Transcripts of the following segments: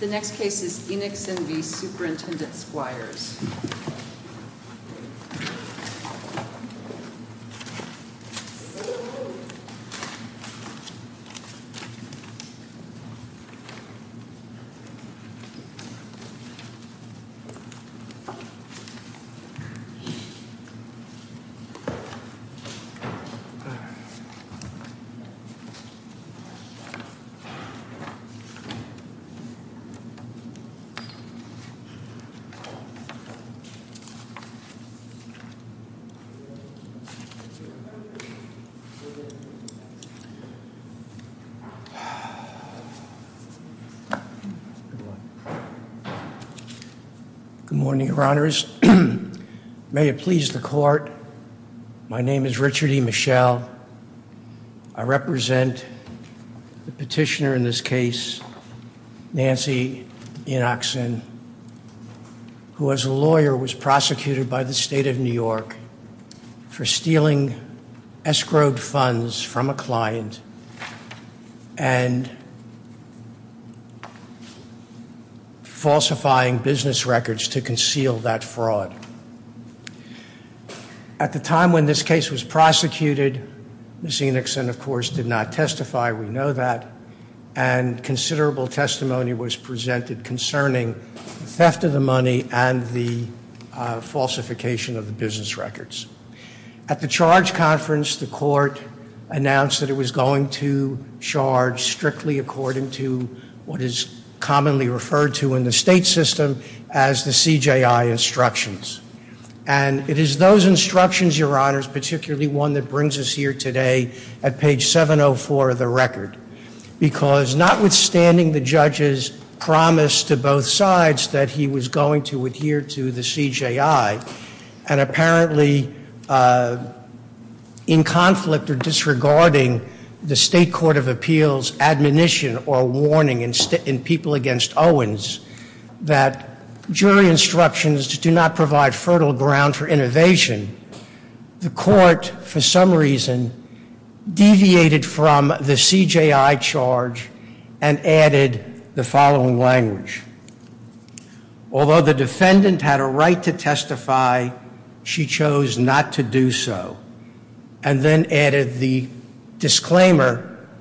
The next case is Enoksen v. Superintendent Squires. Good morning, your honors. May it please the court. My name is Richard E. Michelle. I represent the petitioner in this case, Nancy Enoksen, who as a lawyer was prosecuted by the state of New York for stealing escrowed funds from a client and falsifying business records to conceal that fraud. At the time when this case was prosecuted, Ms. Enoksen, of course, did not testify. We know that. And considerable testimony was presented concerning the theft of the money and the falsification of the business records. At the charge conference, the court announced that it was going to charge strictly according to what is commonly referred to in the state system as the CJI instructions. And it is those instructions, your honors, particularly one that brings us here today at page 704 of the record, because notwithstanding the judge's promise to both sides that he was going to adhere to the CJI, and apparently in conflict or disregarding the state court of appeals admonition or warning in people against Owens that jury instructions do not provide fertile ground for innovation, the court for some reason deviated from the CJI charge and added the following language. Although the defendant had a right to testify, she chose not to do so, and then added the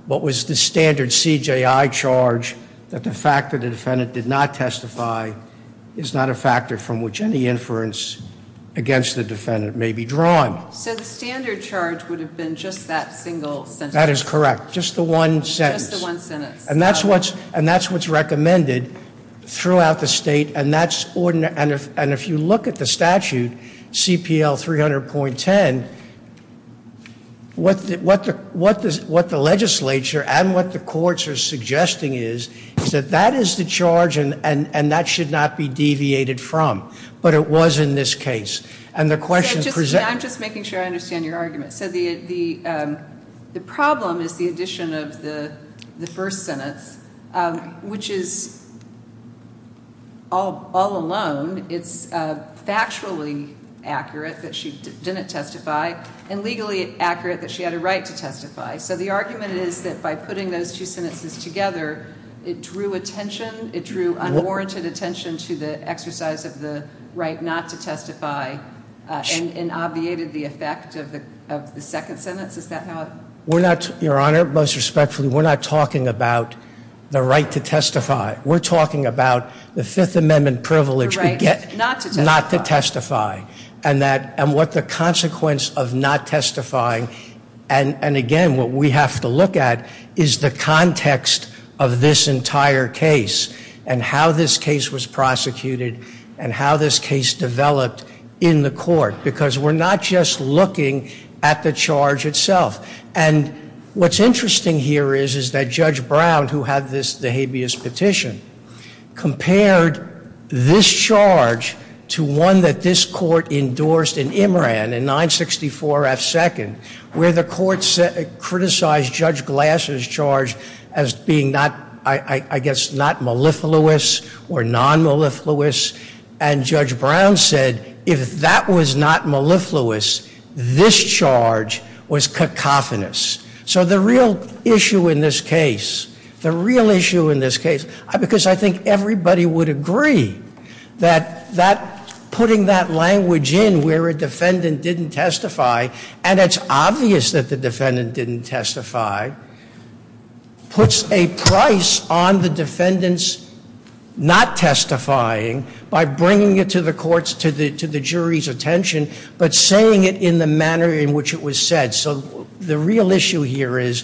what was the standard CJI charge that the fact that the defendant did not testify is not a factor from which any inference against the defendant may be drawn. So the standard charge would have been just that single sentence. That is correct. Just the one sentence. Just the one sentence. And that's what's recommended throughout the state, and if you look at the statute, CPL 300.10, what the legislature and what the courts are suggesting is that that is the charge and that should not be deviated from. But it was in this case. And the question is presented. I'm just making sure I understand your argument. So the problem is the addition of the first sentence, which is all alone. It's factually accurate that she didn't testify and legally accurate that she had a right to testify. So the argument is that by putting those two sentences together, it drew attention. It drew unwarranted attention to the exercise of the right not to testify and obviated the effect of the second sentence. Is that how it? Your Honor, most respectfully, we're not talking about the right to testify. We're talking about the Fifth Amendment privilege. The right not to testify. Not to testify. And what the consequence of not testifying. And again, what we have to look at is the context of this entire case and how this case was prosecuted and how this case developed in the court. Because we're not just looking at the charge itself. And what's interesting here is that Judge Brown, who had the habeas petition, compared this charge to one that this court endorsed in Imran in 964 F. Second, where the court criticized Judge Glass's charge as being not, I guess, not mellifluous or non-mellifluous. And Judge Brown said if that was not mellifluous, this charge was cacophonous. So the real issue in this case, the real issue in this case, because I think everybody would agree that putting that language in where a defendant didn't testify, and it's obvious that the defendant didn't testify, puts a price on the defendant's not testifying by bringing it to the jury's attention, but saying it in the manner in which it was said. So the real issue here is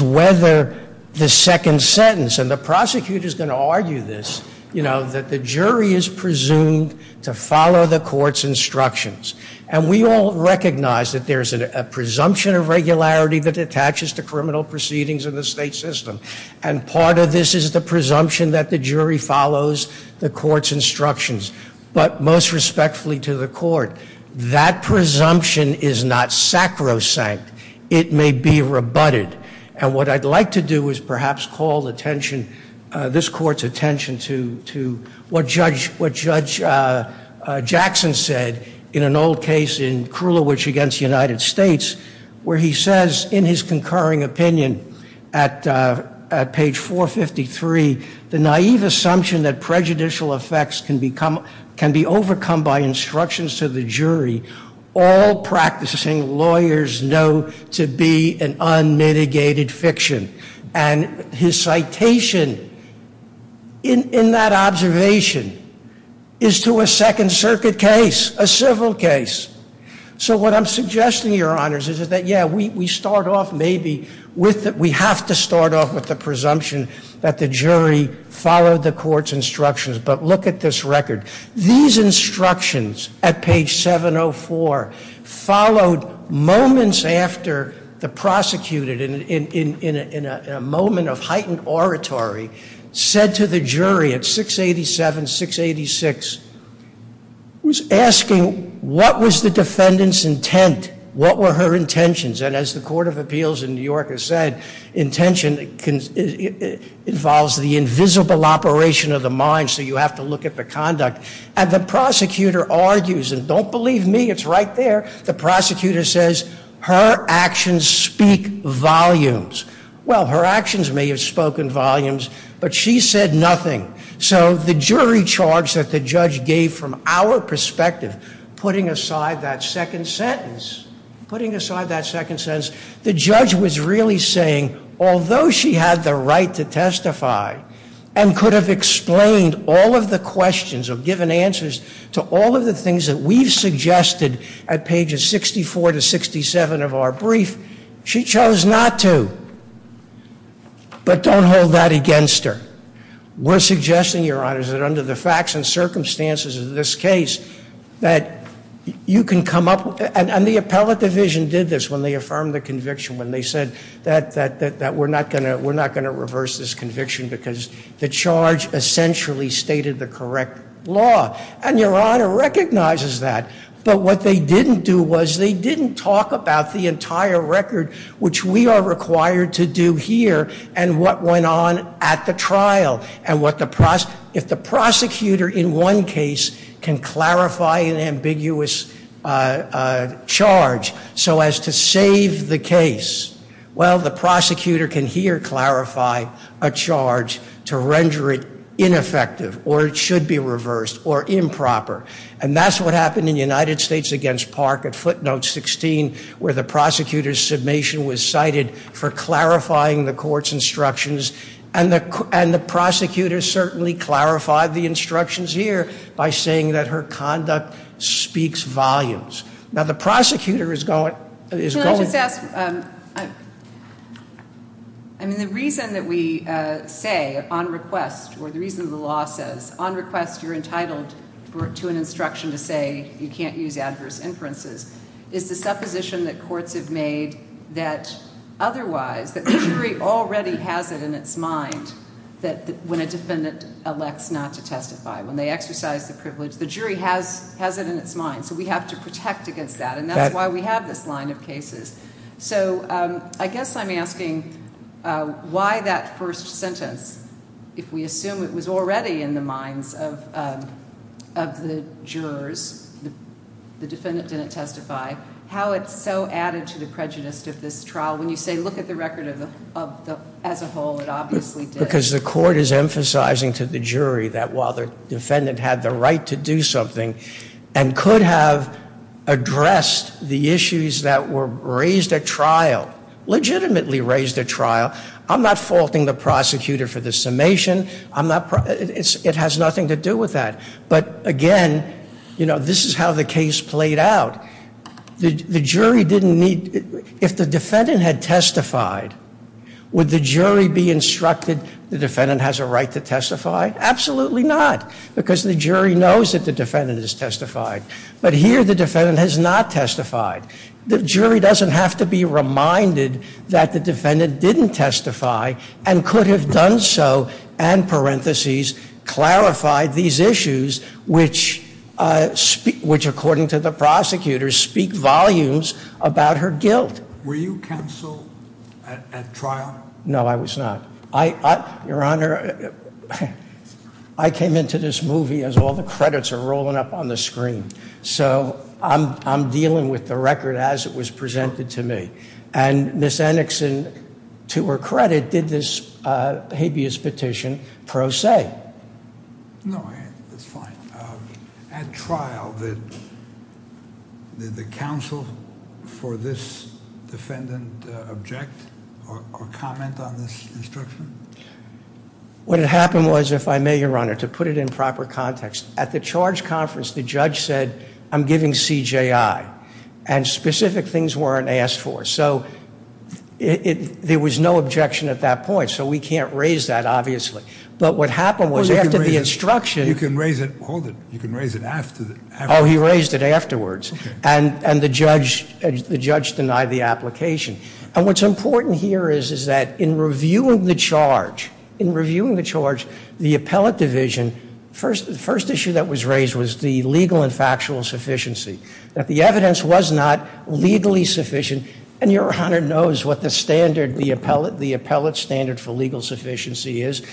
whether the second sentence, and the prosecutor's going to argue this, that the jury is presumed to follow the court's instructions. And we all recognize that there's a presumption of regularity that attaches to criminal proceedings in the state system. And part of this is the presumption that the jury follows the court's instructions. But most respectfully to the court, that presumption is not sacrosanct. It may be rebutted. And what I'd like to do is perhaps call attention, this court's attention, to what Judge Jackson said in an old case in Krulowitz v. United States, where he says in his concurring opinion at page 453, the naive assumption that prejudicial effects can be overcome by instructions to the jury, all practicing lawyers know to be an unmitigated fiction. And his citation in that observation is to a Second Circuit case, a civil case. So what I'm suggesting, Your Honors, is that, yeah, we have to start off with the presumption that the jury followed the court's instructions. But look at this record. These instructions at page 704 followed moments after the prosecutor, in a moment of heightened oratory, said to the jury at 687, 686, was asking, what was the defendant's intent? What were her intentions? And as the Court of Appeals in New York has said, intention involves the invisible operation of the mind, so you have to look at the conduct. And the prosecutor argues, and don't believe me, it's right there, the prosecutor says, her actions speak volumes. Well, her actions may have spoken volumes, but she said nothing. So the jury charge that the judge gave from our perspective, putting aside that second sentence, putting aside that second sentence, the judge was really saying, although she had the right to testify and could have explained all of the questions or given answers to all of the things that we've suggested at pages 64 to 67 of our brief, she chose not to. But don't hold that against her. We're suggesting, Your Honor, that under the facts and circumstances of this case, that you can come up with, and the appellate division did this when they affirmed the conviction, when they said that we're not going to reverse this conviction because the charge essentially stated the correct law. And Your Honor recognizes that. But what they didn't do was they didn't talk about the entire record, which we are required to do here, and what went on at the trial. If the prosecutor in one case can clarify an ambiguous charge so as to save the case, well, the prosecutor can here clarify a charge to render it ineffective or it should be reversed or improper. And that's what happened in the United States against Park at footnote 16 where the prosecutor's submission was cited for clarifying the court's instructions. And the prosecutor certainly clarified the instructions here by saying that her conduct speaks volumes. Now, the prosecutor is going to... Can I just ask, I mean, the reason that we say on request or the reason the law says on request you're entitled to an instruction to say you can't use adverse inferences is the supposition that courts have made that otherwise, that the jury already has it in its mind that when a defendant elects not to testify, when they exercise the privilege, the jury has it in its mind. So we have to protect against that, and that's why we have this line of cases. So I guess I'm asking why that first sentence, if we assume it was already in the minds of the jurors, the defendant didn't testify, how it's so added to the prejudice of this trial. When you say look at the record as a whole, it obviously did. Because the court is emphasizing to the jury that while the defendant had the right to do something and could have addressed the issues that were raised at trial, legitimately raised at trial, I'm not faulting the prosecutor for the summation. It has nothing to do with that. But again, this is how the case played out. If the defendant had testified, would the jury be instructed the defendant has a right to testify? Absolutely not, because the jury knows that the defendant has testified. But here the defendant has not testified. The jury doesn't have to be reminded that the defendant didn't testify and could have done so, and parenthesis, clarified these issues which, according to the prosecutor, speak volumes about her guilt. Were you counsel at trial? No, I was not. Your Honor, I came into this movie as all the credits are rolling up on the screen. So I'm dealing with the record as it was presented to me. And Ms. Enickson, to her credit, did this habeas petition pro se. No, that's fine. At trial, did the counsel for this defendant object or comment on this instruction? What had happened was, if I may, Your Honor, to put it in proper context, at the charge conference, the judge said, I'm giving CJI. And specific things weren't asked for. So there was no objection at that point. So we can't raise that, obviously. But what happened was after the instruction. You can raise it. Hold it. You can raise it afterwards. Oh, he raised it afterwards. And the judge denied the application. And what's important here is that in reviewing the charge, in reviewing the charge, the appellate division, the first issue that was raised was the legal and factual sufficiency. That the evidence was not legally sufficient. And Your Honor knows what the standard, the appellate standard for legal sufficiency is.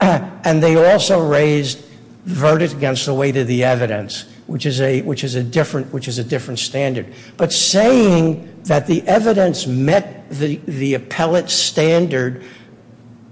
And they also raised verdict against the weight of the evidence, which is a different standard. But saying that the evidence met the appellate standard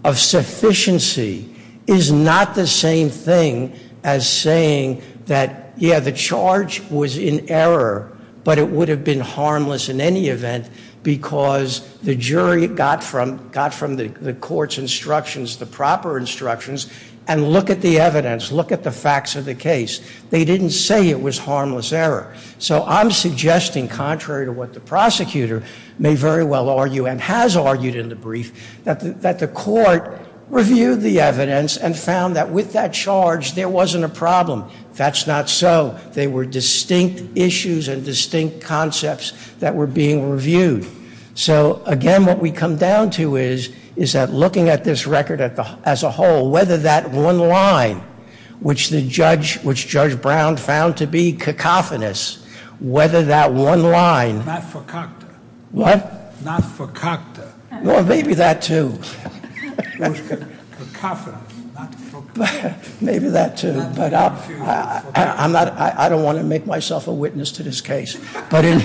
of sufficiency is not the same thing as saying that, yeah, the charge was in error, but it would have been harmless in any event because the jury got from the court's instructions, the proper instructions, and look at the evidence, look at the facts of the case. They didn't say it was harmless error. So I'm suggesting, contrary to what the prosecutor may very well argue and has argued in the brief, that the court reviewed the evidence and found that with that charge there wasn't a problem. That's not so. They were distinct issues and distinct concepts that were being reviewed. So, again, what we come down to is that looking at this record as a whole, whether that one line, which Judge Brown found to be cacophonous, whether that one line- Not for Cocteau. What? Not for Cocteau. Well, maybe that, too. Cacophonous, not for Cocteau. Maybe that, too. I don't want to make myself a witness to this case. But in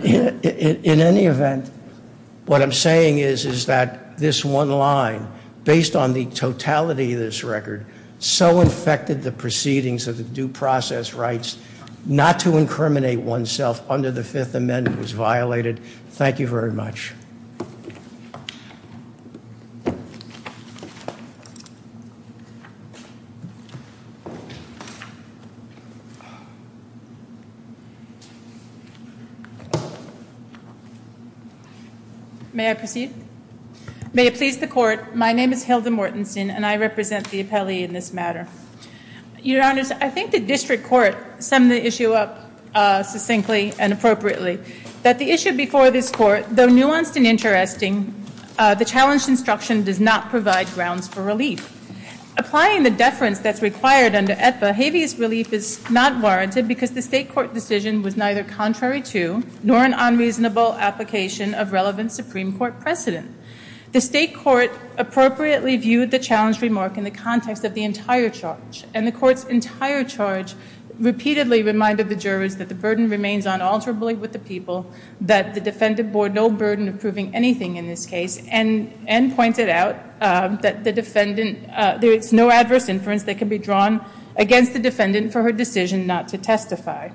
any event, what I'm saying is that this one line, based on the totality of this record, so infected the proceedings of the due process rights not to incriminate oneself under the Fifth Amendment was violated. Thank you very much. May I proceed? May it please the Court, my name is Hilda Mortensen, and I represent the appellee in this matter. Your Honors, I think the District Court summed the issue up succinctly and appropriately, that the issue before this Court, though nuanced and interesting, the challenged instruction does not provide grounds for relief. Applying the deference that's required under Aetba, habeas relief is not warranted because the State Court decision was neither contrary to, nor an unreasonable application of relevant Supreme Court precedent. The State Court appropriately viewed the challenged remark in the context of the entire charge, and the Court's entire charge repeatedly reminded the jurors that the burden remains unalterably with the people, that the Defendant bore no burden of proving anything in this case, and pointed out that the Defendant, there is no adverse inference that can be drawn against the Defendant for her decision not to testify.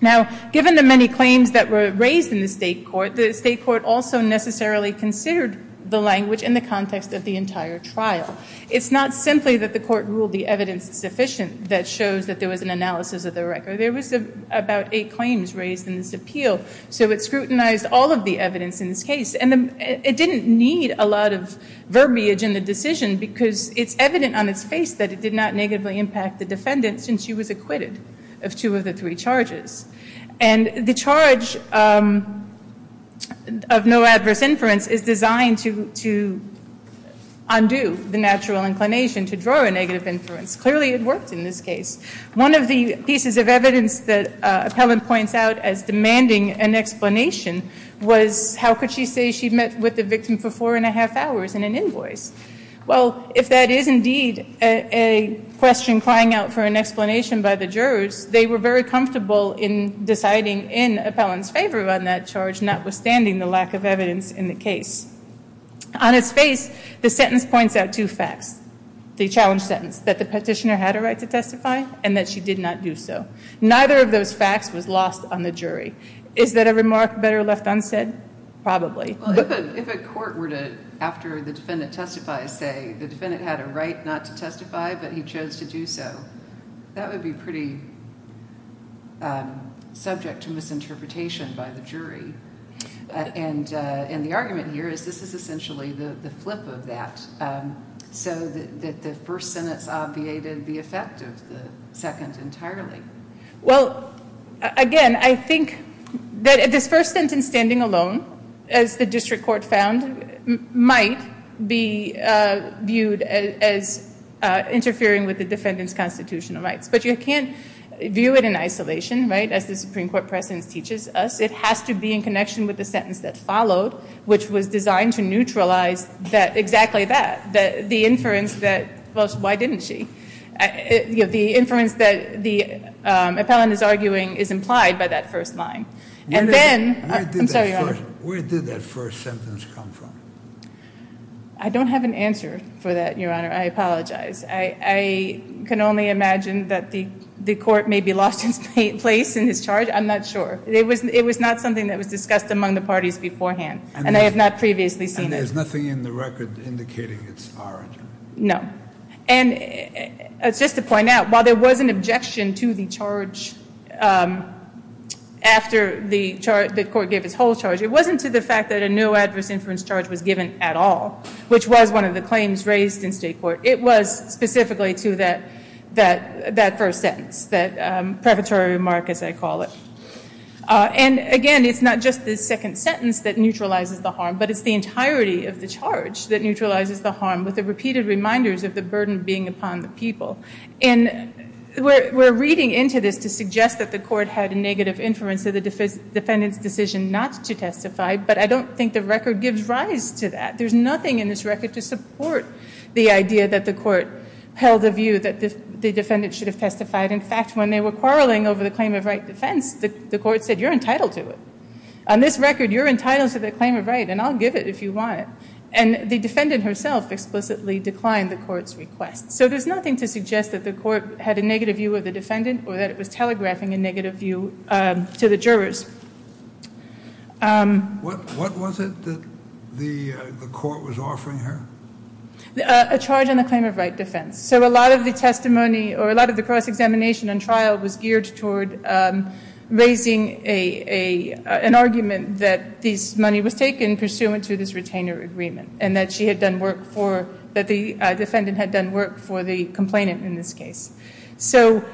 Now, given the many claims that were raised in the State Court, the State Court also necessarily considered the language in the context of the entire trial. It's not simply that the Court ruled the evidence sufficient that shows that there was an analysis of the record. There was about eight claims raised in this appeal, so it scrutinized all of the evidence in this case, and it didn't need a lot of verbiage in the decision because it's evident on its face that it did not negatively impact the Defendant since she was acquitted of two of the three charges. And the charge of no adverse inference is designed to undo the natural inclination to draw a negative inference. Clearly, it worked in this case. One of the pieces of evidence that Appellant points out as demanding an explanation was how could she say she met with the victim for four and a half hours in an invoice? Well, if that is indeed a question crying out for an explanation by the jurors, they were very comfortable in deciding in Appellant's favor on that charge, notwithstanding the lack of evidence in the case. On its face, the sentence points out two facts, the challenge sentence, that the Petitioner had a right to testify and that she did not do so. Neither of those facts was lost on the jury. Is that a remark better left unsaid? Probably. If a court were to, after the Defendant testifies, say the Defendant had a right not to testify but he chose to do so, that would be pretty subject to misinterpretation by the jury. And the argument here is this is essentially the flip of that, so that the first sentence obviated the effect of the second entirely. Well, again, I think that this first sentence standing alone, as the district court found, might be viewed as interfering with the Defendant's constitutional rights. But you can't view it in isolation, right, as the Supreme Court precedence teaches us. It has to be in connection with the sentence that followed, which was designed to neutralize exactly that, the inference that, well, why didn't she? The inference that the appellant is arguing is implied by that first line. And then, I'm sorry, Your Honor. Where did that first sentence come from? I don't have an answer for that, Your Honor. I apologize. I can only imagine that the court may be lost in place in this charge. I'm not sure. It was not something that was discussed among the parties beforehand, and I have not previously seen it. And there's nothing in the record indicating its origin? No. And just to point out, while there was an objection to the charge after the court gave its whole charge, it wasn't to the fact that a no adverse inference charge was given at all, which was one of the claims raised in state court. It was specifically to that first sentence, that preparatory remark, as I call it. And, again, it's not just the second sentence that neutralizes the harm, but it's the entirety of the charge that neutralizes the harm, with the repeated reminders of the burden being upon the people. And we're reading into this to suggest that the court had a negative inference of the defendant's decision not to testify, but I don't think the record gives rise to that. There's nothing in this record to support the idea that the court held the view that the defendant should have testified. In fact, when they were quarreling over the claim of right defense, the court said, you're entitled to it. On this record, you're entitled to the claim of right, and I'll give it if you want it. And the defendant herself explicitly declined the court's request. So there's nothing to suggest that the court had a negative view of the defendant or that it was telegraphing a negative view to the jurors. What was it that the court was offering her? A charge on the claim of right defense. So a lot of the testimony or a lot of the cross-examination and trial was geared toward raising an argument that this money was taken pursuant to this retainer agreement and that the defendant had done work for the complainant in this case. So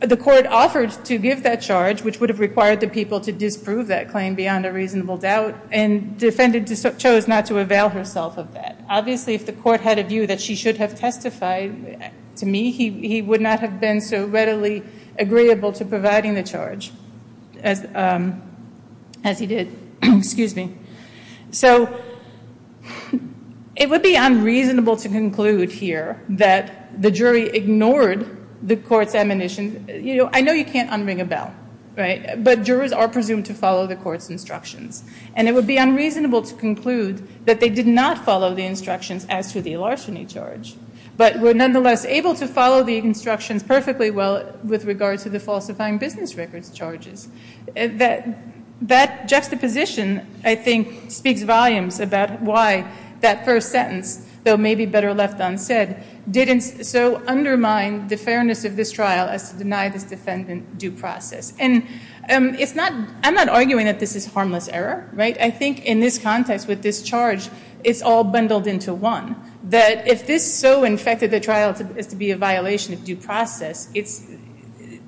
the court offered to give that charge, which would have required the people to disprove that claim beyond a reasonable doubt, and the defendant chose not to avail herself of that. Obviously, if the court had a view that she should have testified to me, he would not have been so readily agreeable to providing the charge as he did. Excuse me. So it would be unreasonable to conclude here that the jury ignored the court's admonition. You know, I know you can't unring a bell, right, but jurors are presumed to follow the court's instructions. And it would be unreasonable to conclude that they did not follow the instructions as to the larceny charge, but were nonetheless able to follow the instructions perfectly well with regard to the falsifying business records charges. That juxtaposition, I think, speaks volumes about why that first sentence, though maybe better left unsaid, didn't so undermine the fairness of this trial as to deny this defendant due process. And I'm not arguing that this is harmless error, right? I think in this context with this charge, it's all bundled into one, that if this so infected the trial as to be a violation of due process,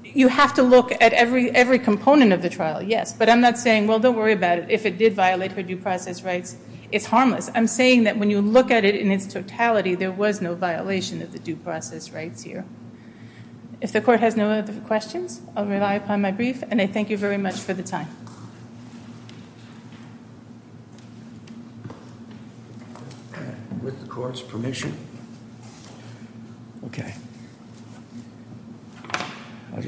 you have to look at every component of the trial, yes. But I'm not saying, well, don't worry about it. If it did violate her due process rights, it's harmless. I'm saying that when you look at it in its totality, there was no violation of the due process rights here. If the court has no other questions, I'll rely upon my brief, and I thank you very much for the time. With the court's permission. Okay. The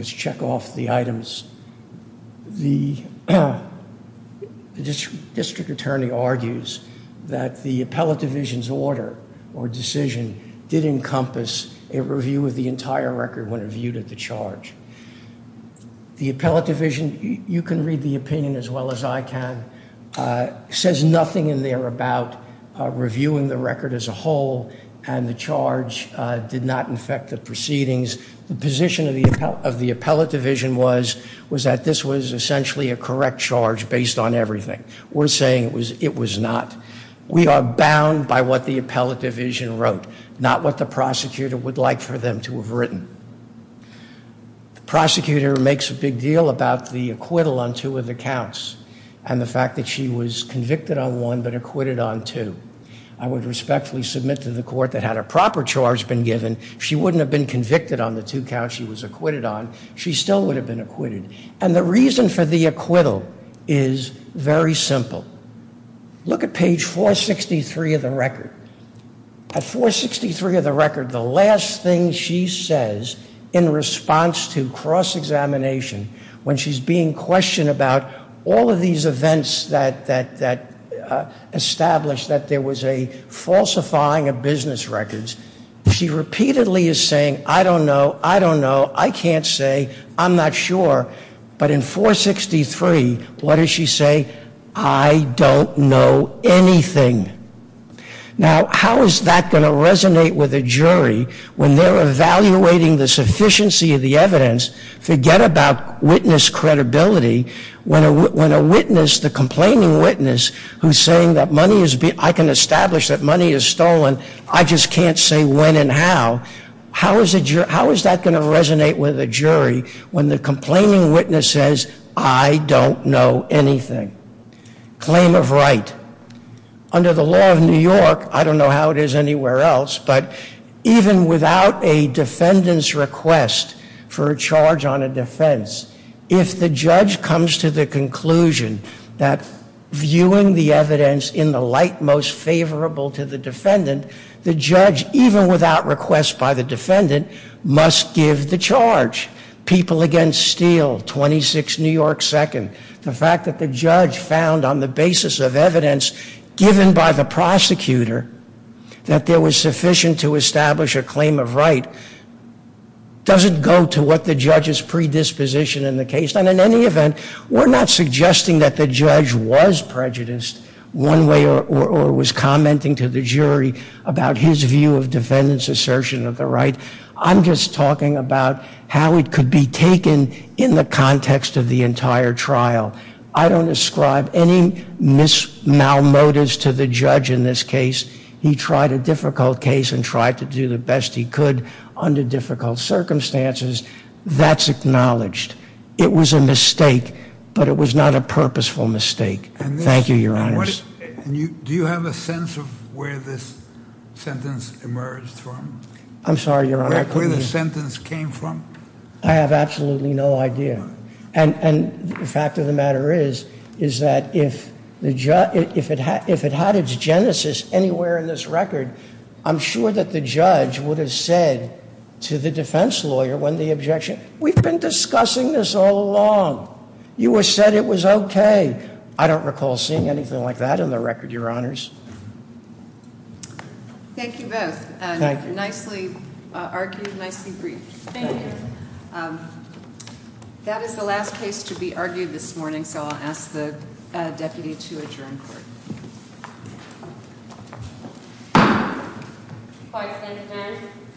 district attorney argues that the appellate division's order or decision did encompass a review of the entire record when reviewed at the charge. The appellate division, you can read the opinion as well as I can, says nothing in there about reviewing the record as a whole and the charge did not infect the proceedings. The position of the appellate division was that this was essentially a correct charge based on everything. We're saying it was not. We are bound by what the appellate division wrote, not what the prosecutor would like for them to have written. The prosecutor makes a big deal about the acquittal on two of the counts and the fact that she was convicted on one but acquitted on two. I would respectfully submit to the court that had a proper charge been given, she wouldn't have been convicted on the two counts she was acquitted on. She still would have been acquitted. And the reason for the acquittal is very simple. Look at page 463 of the record. At 463 of the record, the last thing she says in response to cross-examination when she's being questioned about all of these events that established that there was a falsifying of business records, she repeatedly is saying, I don't know, I don't know, I can't say, I'm not sure. But in 463, what does she say? I don't know anything. Now, how is that going to resonate with a jury when they're evaluating the sufficiency of the evidence? Forget about witness credibility. When a witness, the complaining witness, who's saying that money has been, I can establish that money is stolen, I just can't say when and how. How is that going to resonate with a jury when the complaining witness says, I don't know anything? Claim of right. Under the law of New York, I don't know how it is anywhere else, but even without a defendant's request for a charge on a defense, if the judge comes to the conclusion that viewing the evidence in the light most favorable to the defendant, the judge, even without request by the defendant, must give the charge. People Against Steel, 26 New York 2nd, the fact that the judge found on the basis of evidence given by the prosecutor that there was sufficient to establish a claim of right doesn't go to what the judge's predisposition in the case. And in any event, we're not suggesting that the judge was prejudiced one way or was commenting to the jury about his view of defendant's assertion of the right. I'm just talking about how it could be taken in the context of the entire trial. I don't ascribe any mal-motives to the judge in this case. He tried a difficult case and tried to do the best he could under difficult circumstances. That's acknowledged. It was a mistake, but it was not a purposeful mistake. Thank you, Your Honor. Do you have a sense of where this sentence emerged from? I'm sorry, Your Honor. Where the sentence came from? I have absolutely no idea. And the fact of the matter is that if it had its genesis anywhere in this record, I'm sure that the judge would have said to the defense lawyer when the objection, we've been discussing this all along. You said it was okay. I don't recall seeing anything like that in the record, Your Honors. Thank you both. Nicely argued, nicely briefed. Thank you. That is the last case to be argued this morning, so I'll ask the deputy to adjourn court.